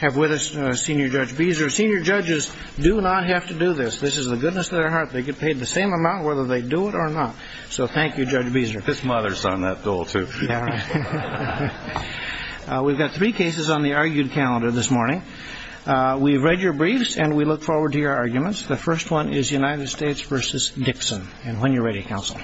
have with us Senior Judge Beezer. Senior judges do not have to do this. This is the goodness of their heart. They get paid the same amount whether they do it or not. So thank you, Judge Beezer. This mother's on that dole, too. We've got three cases on the argued calendar this morning. We've read your briefs and we look forward to your arguments. The first one is United States v. Dixon. And when you're ready, counsel.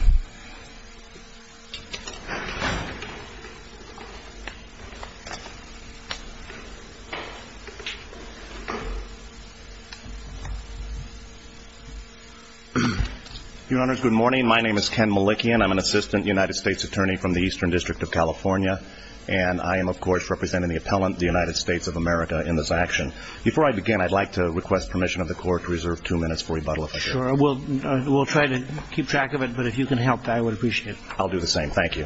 Your honors, good morning. My name is Ken Malikian. I'm an assistant United States attorney from the Eastern District of California. And I am, of course, representing the appellant, the United States of America, in this action. Before I begin, I'd like to request permission of the court to reserve two minutes for rebuttal. Sure. We'll try to keep track of it. But if you can help, I would appreciate it. I'll do the same. Thank you.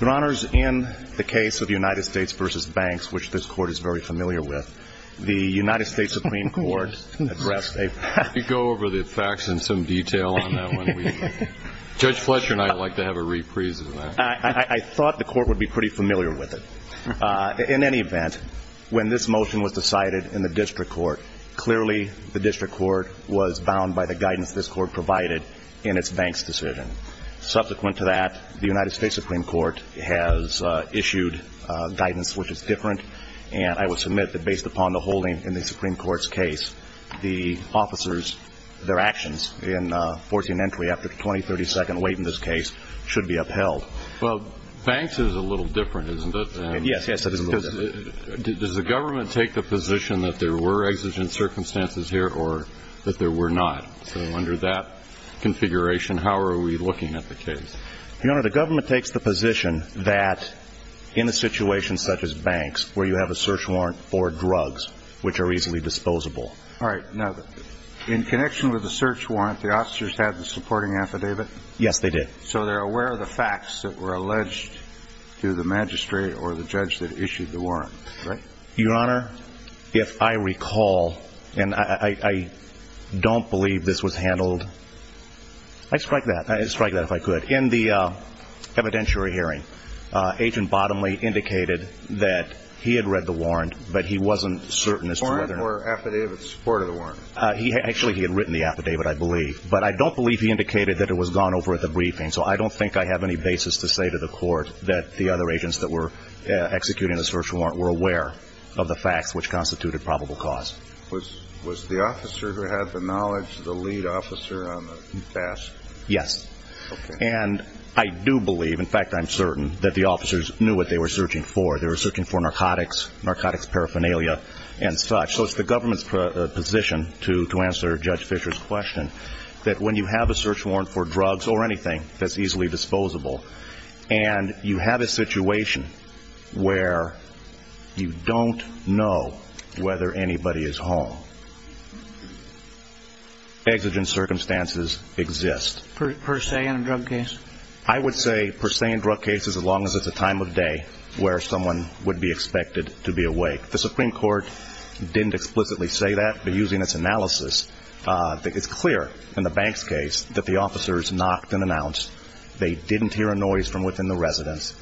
Your honors, in the case of United States v. Banks, which this court is very familiar with, the United States Supreme Court addressed a Could you go over the facts in some detail on that one? Judge Fletcher and I would like to have a reprise of that. I thought the court would be pretty familiar with it. In any event, when this motion was decided in the district court, clearly the district court was bound by the guidance this court provided in its Banks decision. Subsequent to that, the United States Supreme Court has issued guidance which is different. And I would submit that based upon the holding in the Supreme Court's case, the officers, their actions in forcing entry after the 20-30 second wait in this case, should be upheld. Banks is a little different, isn't it? Yes. Does the government take the position that there were exigent circumstances here or that there were not? So under that configuration, how are we looking at the case? Your honor, the government takes the position that in a situation such as Banks, where you have a search warrant for drugs, which are easily disposable. All right. Now, in connection with the search warrant, the officers had the supporting affidavit? Yes, they did. So they're aware of the facts that were alleged to the magistrate or the judge that issued the warrant, right? Your honor, if I recall, and I don't believe this was handled, I'd strike that, I'd strike that if I could. In the evidentiary hearing, Agent Bottomley indicated that he had read the warrant, but he wasn't certain as to whether or not The warrant or affidavit in support of the warrant? Actually, he had written the affidavit, I believe. But I don't believe he indicated that it was gone over at the briefing, so I don't think I have any basis to say to the court that the other agents that were executing the search warrant were aware of the facts which constituted probable cause. Was the officer who had the knowledge the lead officer on the task? Yes. Okay. And I do believe, in fact I'm certain, that the officers knew what they were searching for. They were searching for narcotics, narcotics paraphernalia, and such. So it's the government's position, to answer Judge Fisher's question, that when you have a search warrant for drugs or anything that's easily disposable, and you have a situation where you don't know whether anybody is home, exigent circumstances exist. Per se in a drug case? I would say per se in drug cases, as long as it's a time of day where someone would be expected to be awake. The Supreme Court didn't explicitly say that. But using its analysis, it's clear in the Banks case that the officers knocked and announced. They didn't hear a noise from within the residence,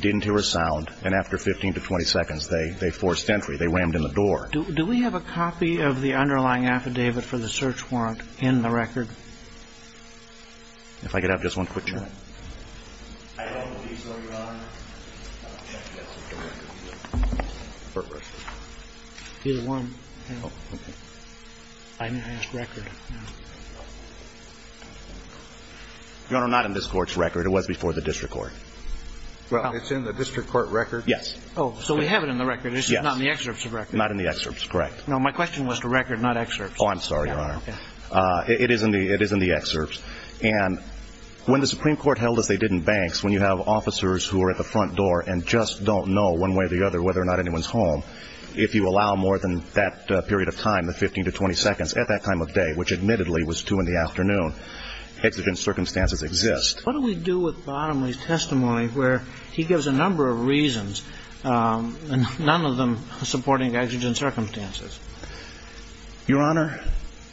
didn't hear a sound. And after 15 to 20 seconds, they forced entry. They rammed in the door. Do we have a copy of the underlying affidavit for the search warrant in the record? If I could have just one quick check. I don't believe so, Your Honor. Here's one. I didn't ask record. Your Honor, not in this court's record. It was before the district court. Well, it's in the district court record. Yes. Oh, so we have it in the record. This is not in the excerpt's record. Not in the excerpt's, correct. No, my question was to record, not excerpt's. Oh, I'm sorry, Your Honor. It is in the excerpt's. And when the Supreme Court held as they did in Banks, when you have officers who are at the front door and just don't know one way or the other whether or not anyone's home, if you allow more than that period of time, the 15 to 20 seconds, at that time of day, which admittedly was 2 in the afternoon, exigent circumstances exist. What do we do with Bottomley's testimony where he gives a number of reasons, none of them supporting exigent circumstances? Your Honor,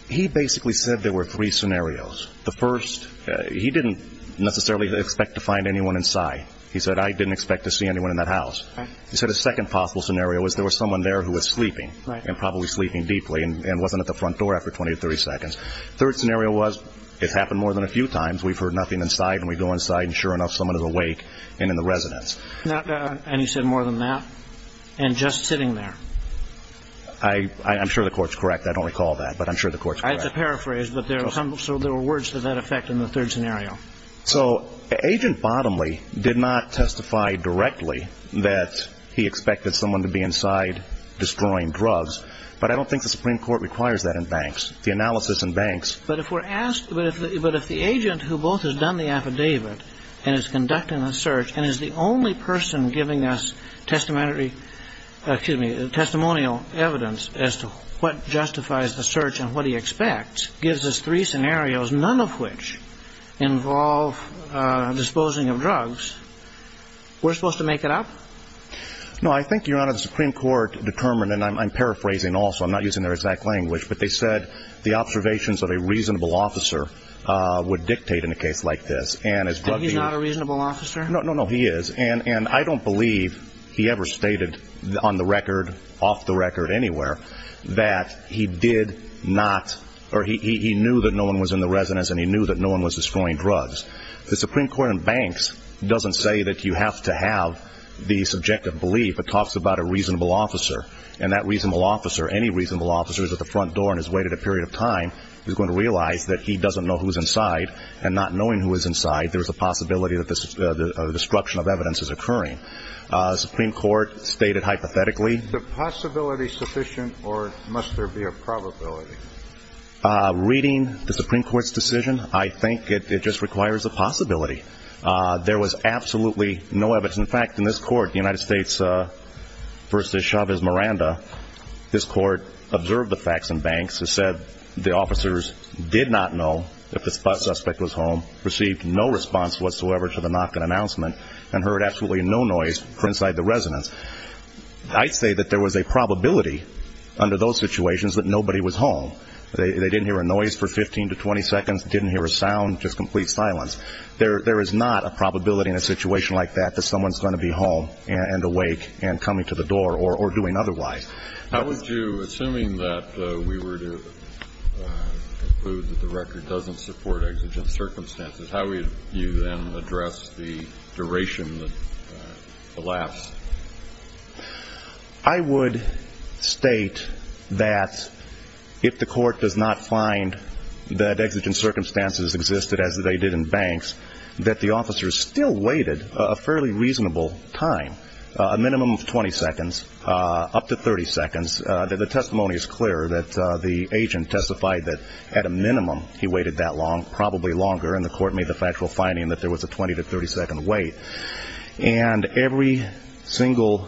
he basically said there were three scenarios. The first, he didn't necessarily expect to find anyone inside. He said, I didn't expect to see anyone in that house. He said a second possible scenario was there was someone there who was sleeping and probably sleeping deeply and wasn't at the front door after 20 to 30 seconds. Third scenario was it's happened more than a few times. We've heard nothing inside, and we go inside, and sure enough someone is awake and in the residence. And he said more than that and just sitting there? I'm sure the court's correct. I don't recall that, but I'm sure the court's correct. I have to paraphrase, but there were words to that effect in the third scenario. So Agent Bottomley did not testify directly that he expected someone to be inside destroying drugs, but I don't think the Supreme Court requires that in banks, the analysis in banks. But if the agent who both has done the affidavit and is conducting the search and is the only person giving us testimonial evidence as to what justifies the search and what he expects gives us three scenarios, none of which involve disposing of drugs, we're supposed to make it up? I think, Your Honor, the Supreme Court determined, and I'm paraphrasing also. I'm not using their exact language, but they said the observations of a reasonable officer would dictate in a case like this. Is he not a reasonable officer? No, no, no. He is. And I don't believe he ever stated on the record, off the record anywhere, that he did not or he knew that no one was in the residence and he knew that no one was destroying drugs. The Supreme Court in banks doesn't say that you have to have the subjective belief. It talks about a reasonable officer, and that reasonable officer, any reasonable officer who's at the front door and has waited a period of time is going to realize that he doesn't know who's inside, and not knowing who is inside, there's a possibility that a destruction of evidence is occurring. The Supreme Court stated hypothetically. Is the possibility sufficient, or must there be a probability? Reading the Supreme Court's decision, I think it just requires a possibility. There was absolutely no evidence. In fact, in this court, the United States v. Chavez-Miranda, this court observed the facts in banks. It said the officers did not know if the suspect was home, received no response whatsoever to the knock and announcement, and heard absolutely no noise from inside the residence. I'd say that there was a probability under those situations that nobody was home. They didn't hear a noise for 15 to 20 seconds, didn't hear a sound, just complete silence. There is not a probability in a situation like that that someone's going to be home and awake and coming to the door or doing otherwise. How would you, assuming that we were to conclude that the record doesn't support exigent circumstances, how would you then address the duration that elapsed? I would state that if the court does not find that exigent circumstances existed, as they did in banks, that the officers still waited a fairly reasonable time, a minimum of 20 seconds, up to 30 seconds. The testimony is clear that the agent testified that at a minimum he waited that long, probably longer, and the court made the factual finding that there was a 20 to 30 second wait. And every single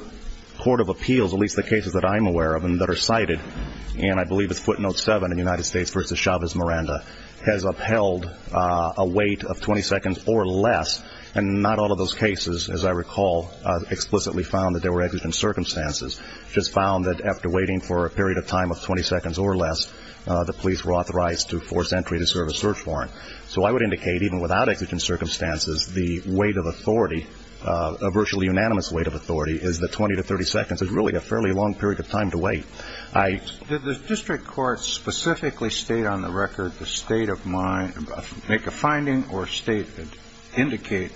court of appeals, at least the cases that I'm aware of and that are cited, and I believe it's footnote 7 in United States v. Chavez-Miranda, has upheld a wait of 20 seconds or less, and not all of those cases, as I recall, explicitly found that there were exigent circumstances, just found that after waiting for a period of time of 20 seconds or less, the police were authorized to force entry to serve a search warrant. So I would indicate, even without exigent circumstances, the weight of authority, a virtually unanimous weight of authority, is that 20 to 30 seconds is really a fairly long period of time to wait. Did the district court specifically state on the record the state of mind, make a finding or state, indicate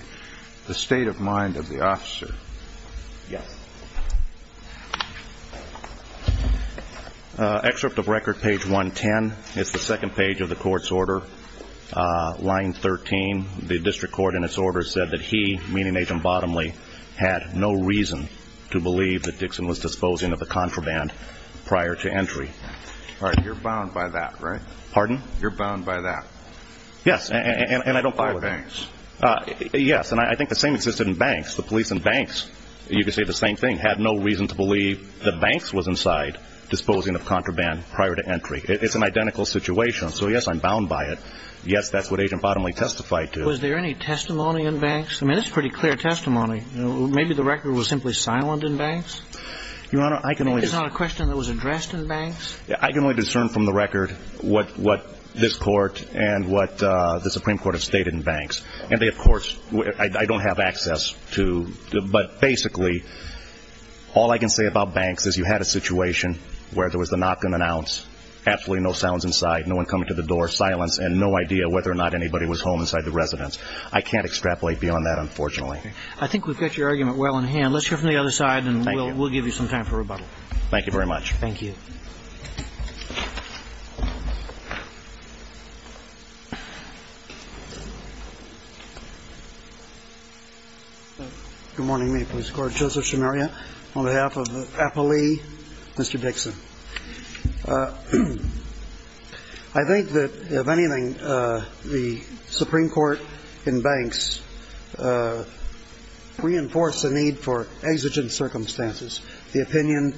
the state of mind of the officer? Yes. Excerpt of record, page 110. It's the second page of the court's order, line 13. The district court in its order said that he, meaning Agent Bottomley, had no reason to believe that Dixon was disposing of the contraband prior to entry. All right. You're bound by that, right? Pardon? You're bound by that. Yes. And I don't believe it. By banks. Yes. And I think the same existed in banks. The police in banks, you could say the same thing, had no reason to believe that banks was inside disposing of contraband prior to entry. It's an identical situation. Yes, that's what Agent Bottomley testified to. Was there any testimony in banks? I mean, this is pretty clear testimony. Maybe the record was simply silent in banks. Your Honor, I can only – Maybe it's not a question that was addressed in banks. I can only discern from the record what this court and what the Supreme Court have stated in banks. And they, of course, I don't have access to, but basically all I can say about banks is you had a situation where there was a knock on an ounce, absolutely no sounds inside, no one coming to the door, silence, and no idea whether or not anybody was home inside the residence. I can't extrapolate beyond that, unfortunately. Okay. I think we've got your argument well in hand. Let's hear from the other side, and we'll give you some time for rebuttal. Thank you very much. Thank you. Good morning. May it please the Court. Joseph Shemaria on behalf of APALE, Mr. Dixon. I think that, if anything, the Supreme Court in banks reinforced the need for exigent circumstances. The opinion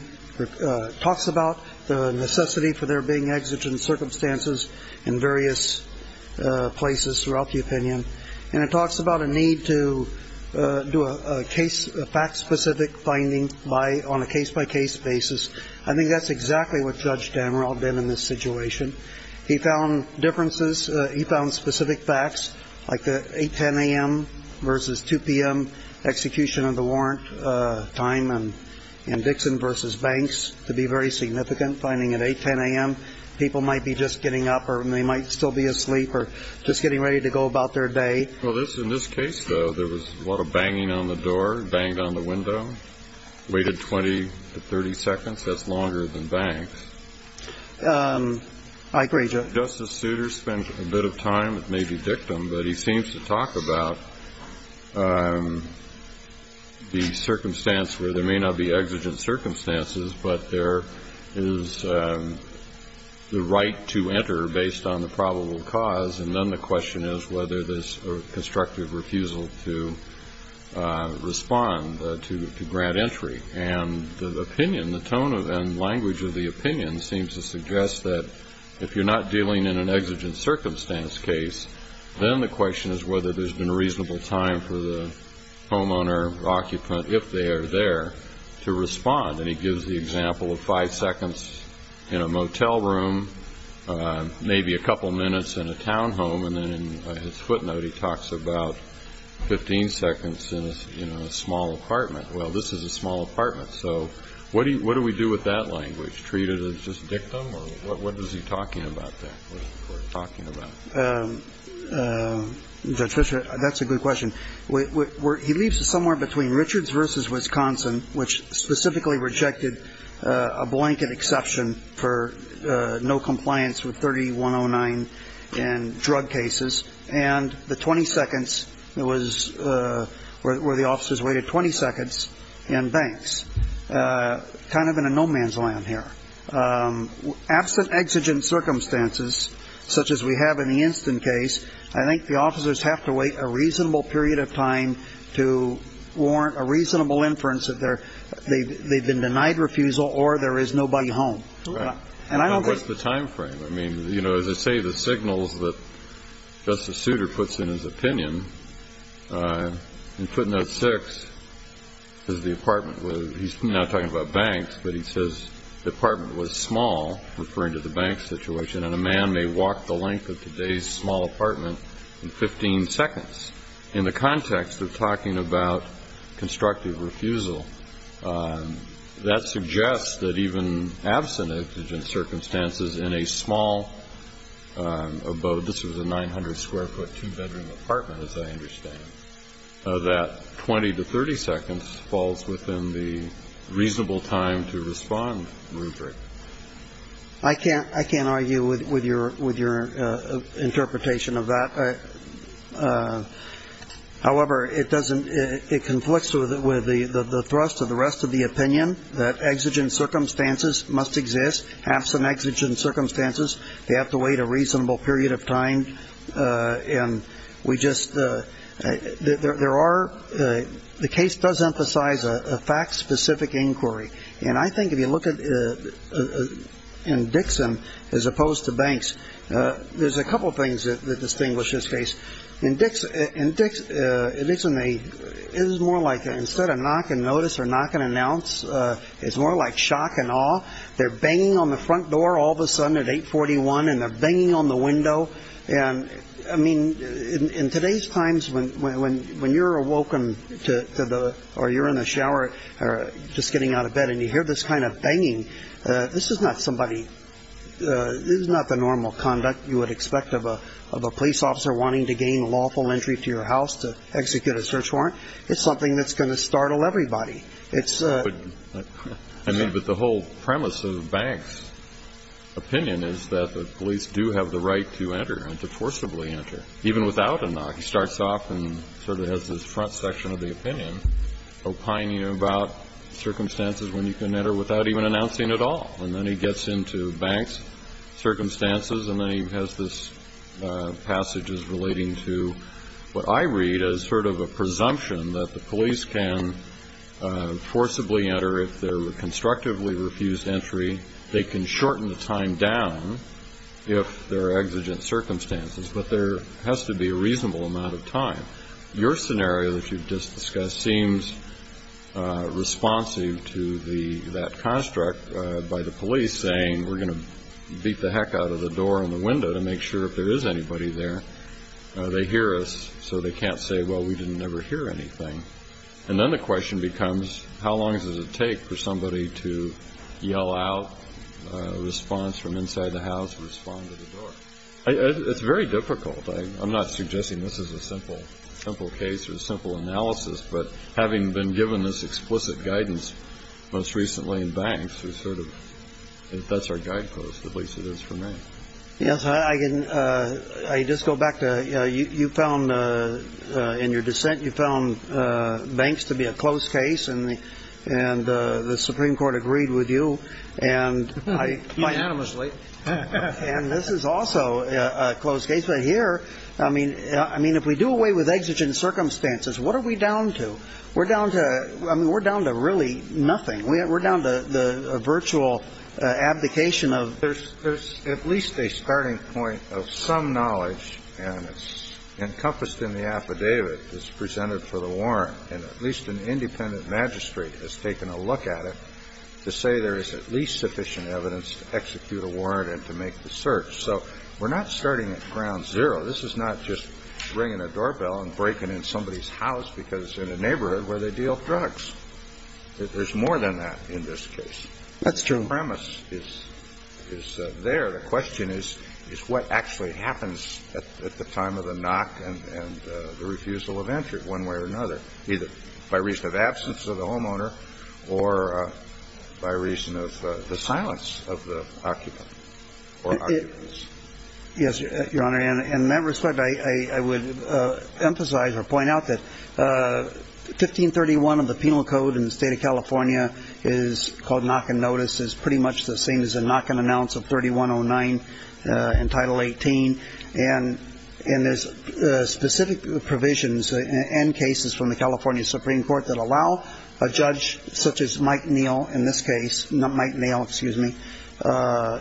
talks about the necessity for there being exigent circumstances in various places throughout the opinion, and it talks about a need to do a fact-specific finding on a case-by-case basis. I think that's exactly what Judge Damrell did in this situation. He found differences. He found specific facts like the 8, 10 a.m. versus 2 p.m. execution of the warrant time in Dixon versus banks to be very significant, finding at 8, 10 a.m. people might be just getting up or they might still be asleep or just getting ready to go about their day. Well, in this case, though, there was a lot of banging on the door, banged on the window, waited 20 to 30 seconds. That's longer than banks. I agree, Judge. Justice Souter spent a bit of time, it may be dictum, but he seems to talk about the circumstance where there may not be exigent circumstances, but there is the right to enter based on the probable cause, and then the question is whether there's constructive refusal to respond, to grant entry. And the opinion, the tone and language of the opinion seems to suggest that if you're not dealing in an exigent circumstance case, then the question is whether there's been a reasonable time for the homeowner or occupant, if they are there, to respond. And he gives the example of five seconds in a motel room, maybe a couple minutes in a townhome, and then in his footnote he talks about 15 seconds in a small apartment. Well, this is a small apartment, so what do we do with that language? Treat it as just dictum, or what is he talking about there? What is he talking about? Judge Fischer, that's a good question. He leaves us somewhere between Richards v. Wisconsin, which specifically rejected a blanket exception for no compliance with 3109 in drug cases, and the 20 seconds, where the officers waited 20 seconds in banks. Kind of in a no-man's land here. Absent exigent circumstances, such as we have in the instant case, I think the officers have to wait a reasonable period of time to warrant a reasonable inference that they've been denied refusal or there is nobody home. What's the time frame? As I say, the signals that Justice Souter puts in his opinion, in footnote 6, he's not talking about banks, but he says the apartment was small, referring to the bank situation, and a man may walk the length of today's small apartment in 15 seconds. In the context of talking about constructive refusal, that suggests that even absent exigent circumstances in a small abode, this was a 900-square-foot, two-bedroom apartment, as I understand, that 20 to 30 seconds falls within the reasonable time to respond rubric. I can't argue with your interpretation of that. However, it conflicts with the thrust of the rest of the opinion that exigent circumstances must exist, absent exigent circumstances, they have to wait a reasonable period of time, and we just the case does emphasize a fact-specific inquiry, and I think if you look in Dixon, as opposed to banks, there's a couple of things that distinguish this case. In Dixon, it is more like instead of knock and notice or knock and announce, it's more like shock and awe. They're banging on the front door all of a sudden at 841, and they're banging on the window. I mean, in today's times, when you're awoken or you're in the shower, or just getting out of bed and you hear this kind of banging, this is not somebody ñ this is not the normal conduct you would expect of a police officer wanting to gain lawful entry to your house to execute a search warrant. It's something that's going to startle everybody. It's a ñ I mean, but the whole premise of the bank's opinion is that the police do have the right to enter and to forcibly enter, even without a knock. He starts off and sort of has this front section of the opinion opining about circumstances when you can enter without even announcing at all. And then he gets into banks' circumstances, and then he has this passages relating to what I read as sort of a presumption that the police can forcibly enter if they're constructively refused entry. They can shorten the time down if there are exigent circumstances, but there has to be a reasonable amount of time. Your scenario that you've just discussed seems responsive to that construct by the police saying we're going to beat the heck out of the door and the window to make sure if there is anybody there. They hear us, so they can't say, well, we didn't ever hear anything. And then the question becomes, how long does it take for somebody to yell out a response from inside the house, respond to the door? It's very difficult. I'm not suggesting this is a simple case or a simple analysis, but having been given this explicit guidance most recently in banks, that's our guidepost, at least it is for me. Yes. I just go back to you found in your dissent, you found banks to be a close case, and the Supreme Court agreed with you. And this is also a close case. But here, I mean, if we do away with exigent circumstances, what are we down to? We're down to, I mean, we're down to really nothing. We're down to the virtual abdication of. There's at least a starting point of some knowledge, and it's encompassed in the affidavit that's presented for the warrant. And at least an independent magistrate has taken a look at it to say there is at least sufficient evidence to execute a warrant and to make the search. So we're not starting at ground zero. This is not just ringing a doorbell and breaking in somebody's house because they're in a neighborhood where they deal drugs. There's more than that in this case. That's true. The premise is there. The question is what actually happens at the time of the knock and the refusal of entry one way or another, either by reason of absence of the homeowner or by reason of the silence of the occupant or occupants. Yes, Your Honor. And in that respect, I would emphasize or point out that 1531 of the Penal Code in the state of California is called knock and notice is pretty much the same as a knock and announce of 3109 in Title 18. And there's specific provisions and cases from the California Supreme Court that allow a judge such as Mike Neal in this case, Mike Neal, excuse me,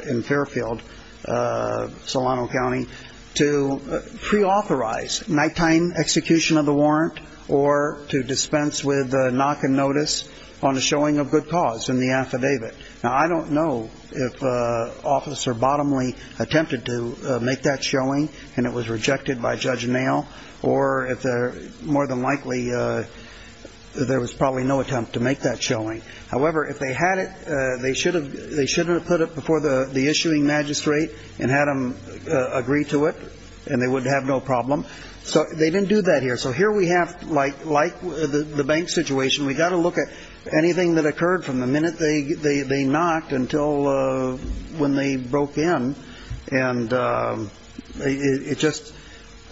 in Fairfield, Solano County, to preauthorize nighttime execution of the warrant or to dispense with knock and notice on the showing of good cause in the affidavit. Now, I don't know if Officer Bottomley attempted to make that showing and it was rejected by Judge Neal, or if more than likely there was probably no attempt to make that showing. However, if they had it, they should have put it before the issuing magistrate and had them agree to it, and they would have no problem. So they didn't do that here. So here we have, like the bank situation, we've got to look at anything that occurred from the minute they knocked until when they broke in. And it just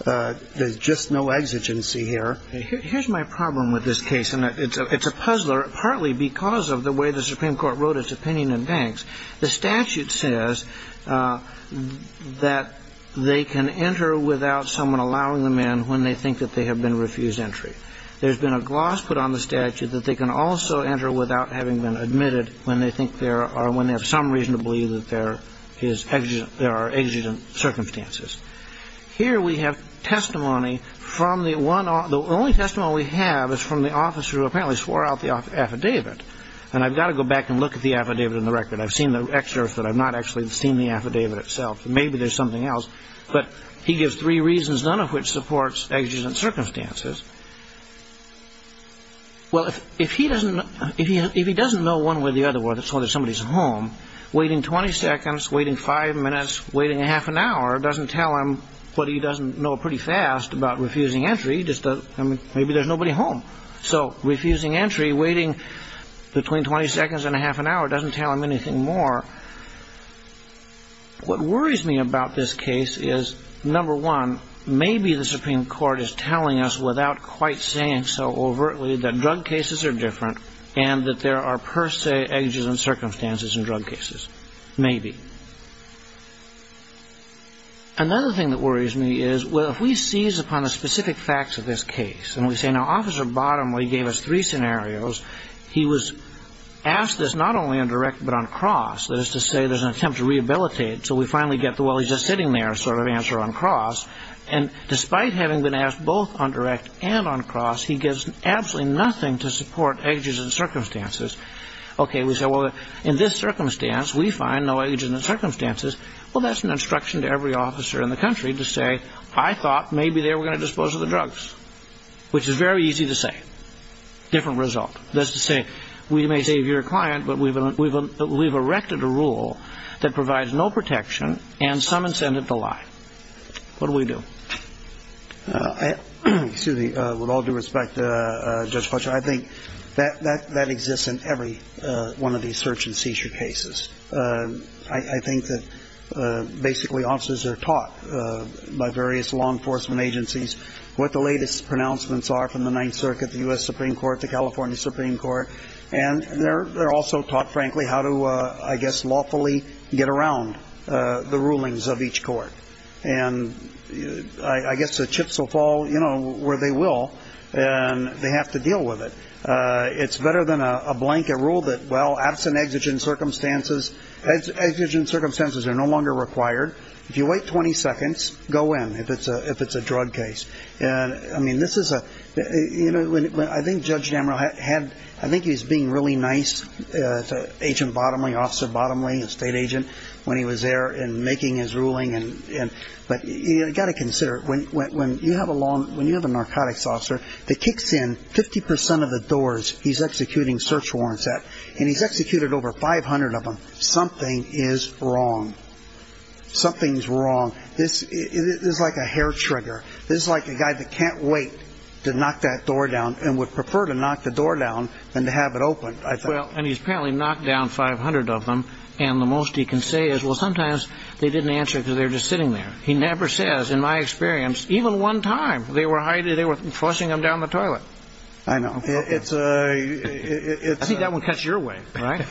there's just no exigency here. Here's my problem with this case, and it's a puzzler, partly because of the way the Supreme Court wrote its opinion in banks. The statute says that they can enter without someone allowing them in when they think that they have been refused entry. There's been a gloss put on the statute that they can also enter without having been admitted when they think there are, when they have some reason to believe that there is, there are exigent circumstances. Here we have testimony from the one, the only testimony we have is from the officer who apparently swore out the affidavit. And I've got to go back and look at the affidavit in the record. I've seen the excerpt, but I've not actually seen the affidavit itself. Maybe there's something else. But he gives three reasons, none of which supports exigent circumstances. Well, if he doesn't know one way or the other whether somebody's home, waiting 20 seconds, waiting five minutes, waiting a half an hour doesn't tell him what he doesn't know pretty fast about refusing entry. Maybe there's nobody home. So refusing entry, waiting between 20 seconds and a half an hour doesn't tell him anything more. What worries me about this case is, number one, maybe the Supreme Court is telling us without quite saying so overtly that drug cases are different and that there are per se exigent circumstances in drug cases. Maybe. Another thing that worries me is, well, if we seize upon the specific facts of this case and we say, now, Officer Bottomley gave us three scenarios. He was asked this not only on direct but on cross, that is to say there's an attempt to rehabilitate. So we finally get the, well, he's just sitting there sort of answer on cross. And despite having been asked both on direct and on cross, he gives absolutely nothing to support exigent circumstances. Okay. We say, well, in this circumstance, we find no exigent circumstances. Well, that's an instruction to every officer in the country to say, I thought maybe they were going to dispose of the drugs, which is very easy to say. Different result. That's to say we may save your client, but we've erected a rule that provides no protection and some incentive to lie. What do we do? Excuse me. With all due respect, Judge Fletcher, I think that exists in every one of these search and seizure cases. I think that basically officers are taught by various law enforcement agencies what the latest pronouncements are from the Ninth Circuit, the U.S. Supreme Court, the California Supreme Court. And they're also taught, frankly, how to, I guess, lawfully get around the rulings of each court. And I guess the chips will fall where they will, and they have to deal with it. It's better than a blanket rule that, well, absent exigent circumstances, exigent circumstances are no longer required. If you wait 20 seconds, go in if it's a drug case. And, I mean, this is a, you know, I think Judge Damrell had, I think he was being really nice to Agent Bottomley, Officer Bottomley, a state agent, when he was there and making his ruling. But you've got to consider, when you have a narcotics officer that kicks in 50 percent of the doors he's executing search warrants at, and he's executed over 500 of them, something is wrong. Something's wrong. This is like a hair trigger. This is like a guy that can't wait to knock that door down and would prefer to knock the door down than to have it open, I think. Well, and he's apparently knocked down 500 of them. And the most he can say is, well, sometimes they didn't answer because they were just sitting there. He never says, in my experience, even one time they were hiding, they were flushing them down the toilet. I know. I think that one cuts your way, right?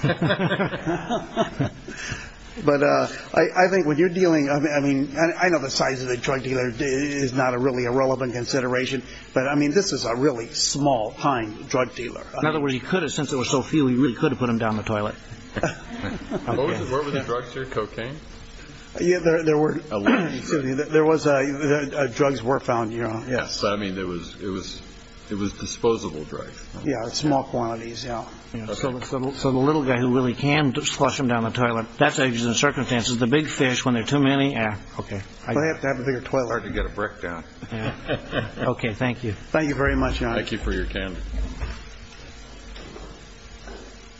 But I think when you're dealing, I mean, I know the size of the drug dealer is not really a relevant consideration, but, I mean, this is a really small, pine drug dealer. In other words, he could have, since there were so few, he really could have put them down the toilet. What were the drugs here, cocaine? Yeah, there were, excuse me, there was, drugs were found, you know. Yes, I mean, it was disposable drugs. Yeah, small quantities, yeah. So the little guy who really can flush them down the toilet, that's the circumstances. The big fish, when there are too many, eh, okay. Well, you have to have a bigger toilet. Okay, thank you. Thank you very much, John. Thank you for your time.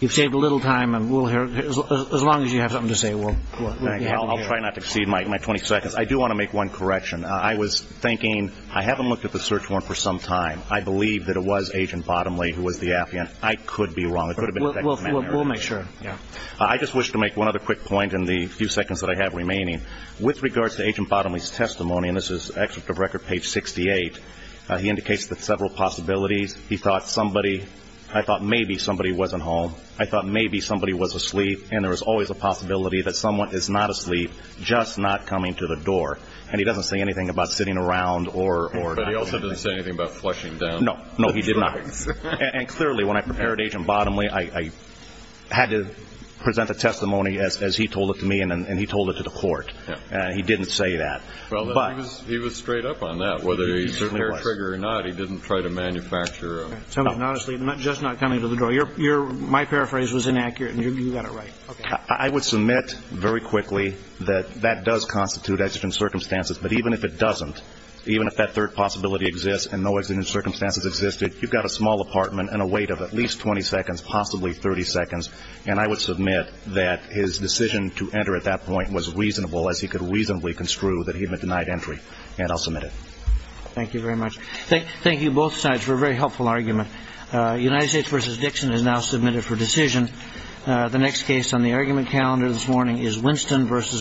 You've saved a little time, and we'll hear, as long as you have something to say, we'll hear. I'll try not to exceed my 20 seconds. I do want to make one correction. I was thinking, I haven't looked at the search warrant for some time. I believe that it was Agent Bottomley who was the affiant. I could be wrong. It could have been a second man. We'll make sure, yeah. I just wish to make one other quick point in the few seconds that I have remaining. With regards to Agent Bottomley's testimony, and this is excerpt of record page 68, he indicates that several possibilities. He thought somebody, I thought maybe somebody wasn't home. I thought maybe somebody was asleep. And there was always a possibility that someone is not asleep, just not coming to the door. And he doesn't say anything about sitting around or down. But he also doesn't say anything about flushing down. No, no, he did not. And clearly, when I prepared Agent Bottomley, I had to present the testimony as he told it to me, and he told it to the court. He didn't say that. Well, he was straight up on that. Whether he's certainly a hair-trigger or not, he didn't try to manufacture. Somebody's not asleep, just not coming to the door. My paraphrase was inaccurate, and you got it right. I would submit very quickly that that does constitute exigent circumstances. But even if it doesn't, even if that third possibility exists and no exigent circumstances existed, you've got a small apartment and a wait of at least 20 seconds, possibly 30 seconds. And I would submit that his decision to enter at that point was reasonable, as he could reasonably construe that he had been denied entry. And I'll submit it. Thank you very much. Thank you, both sides, for a very helpful argument. United States v. Dixon is now submitted for decision. The next case on the argument calendar this morning is Winston v. Brown.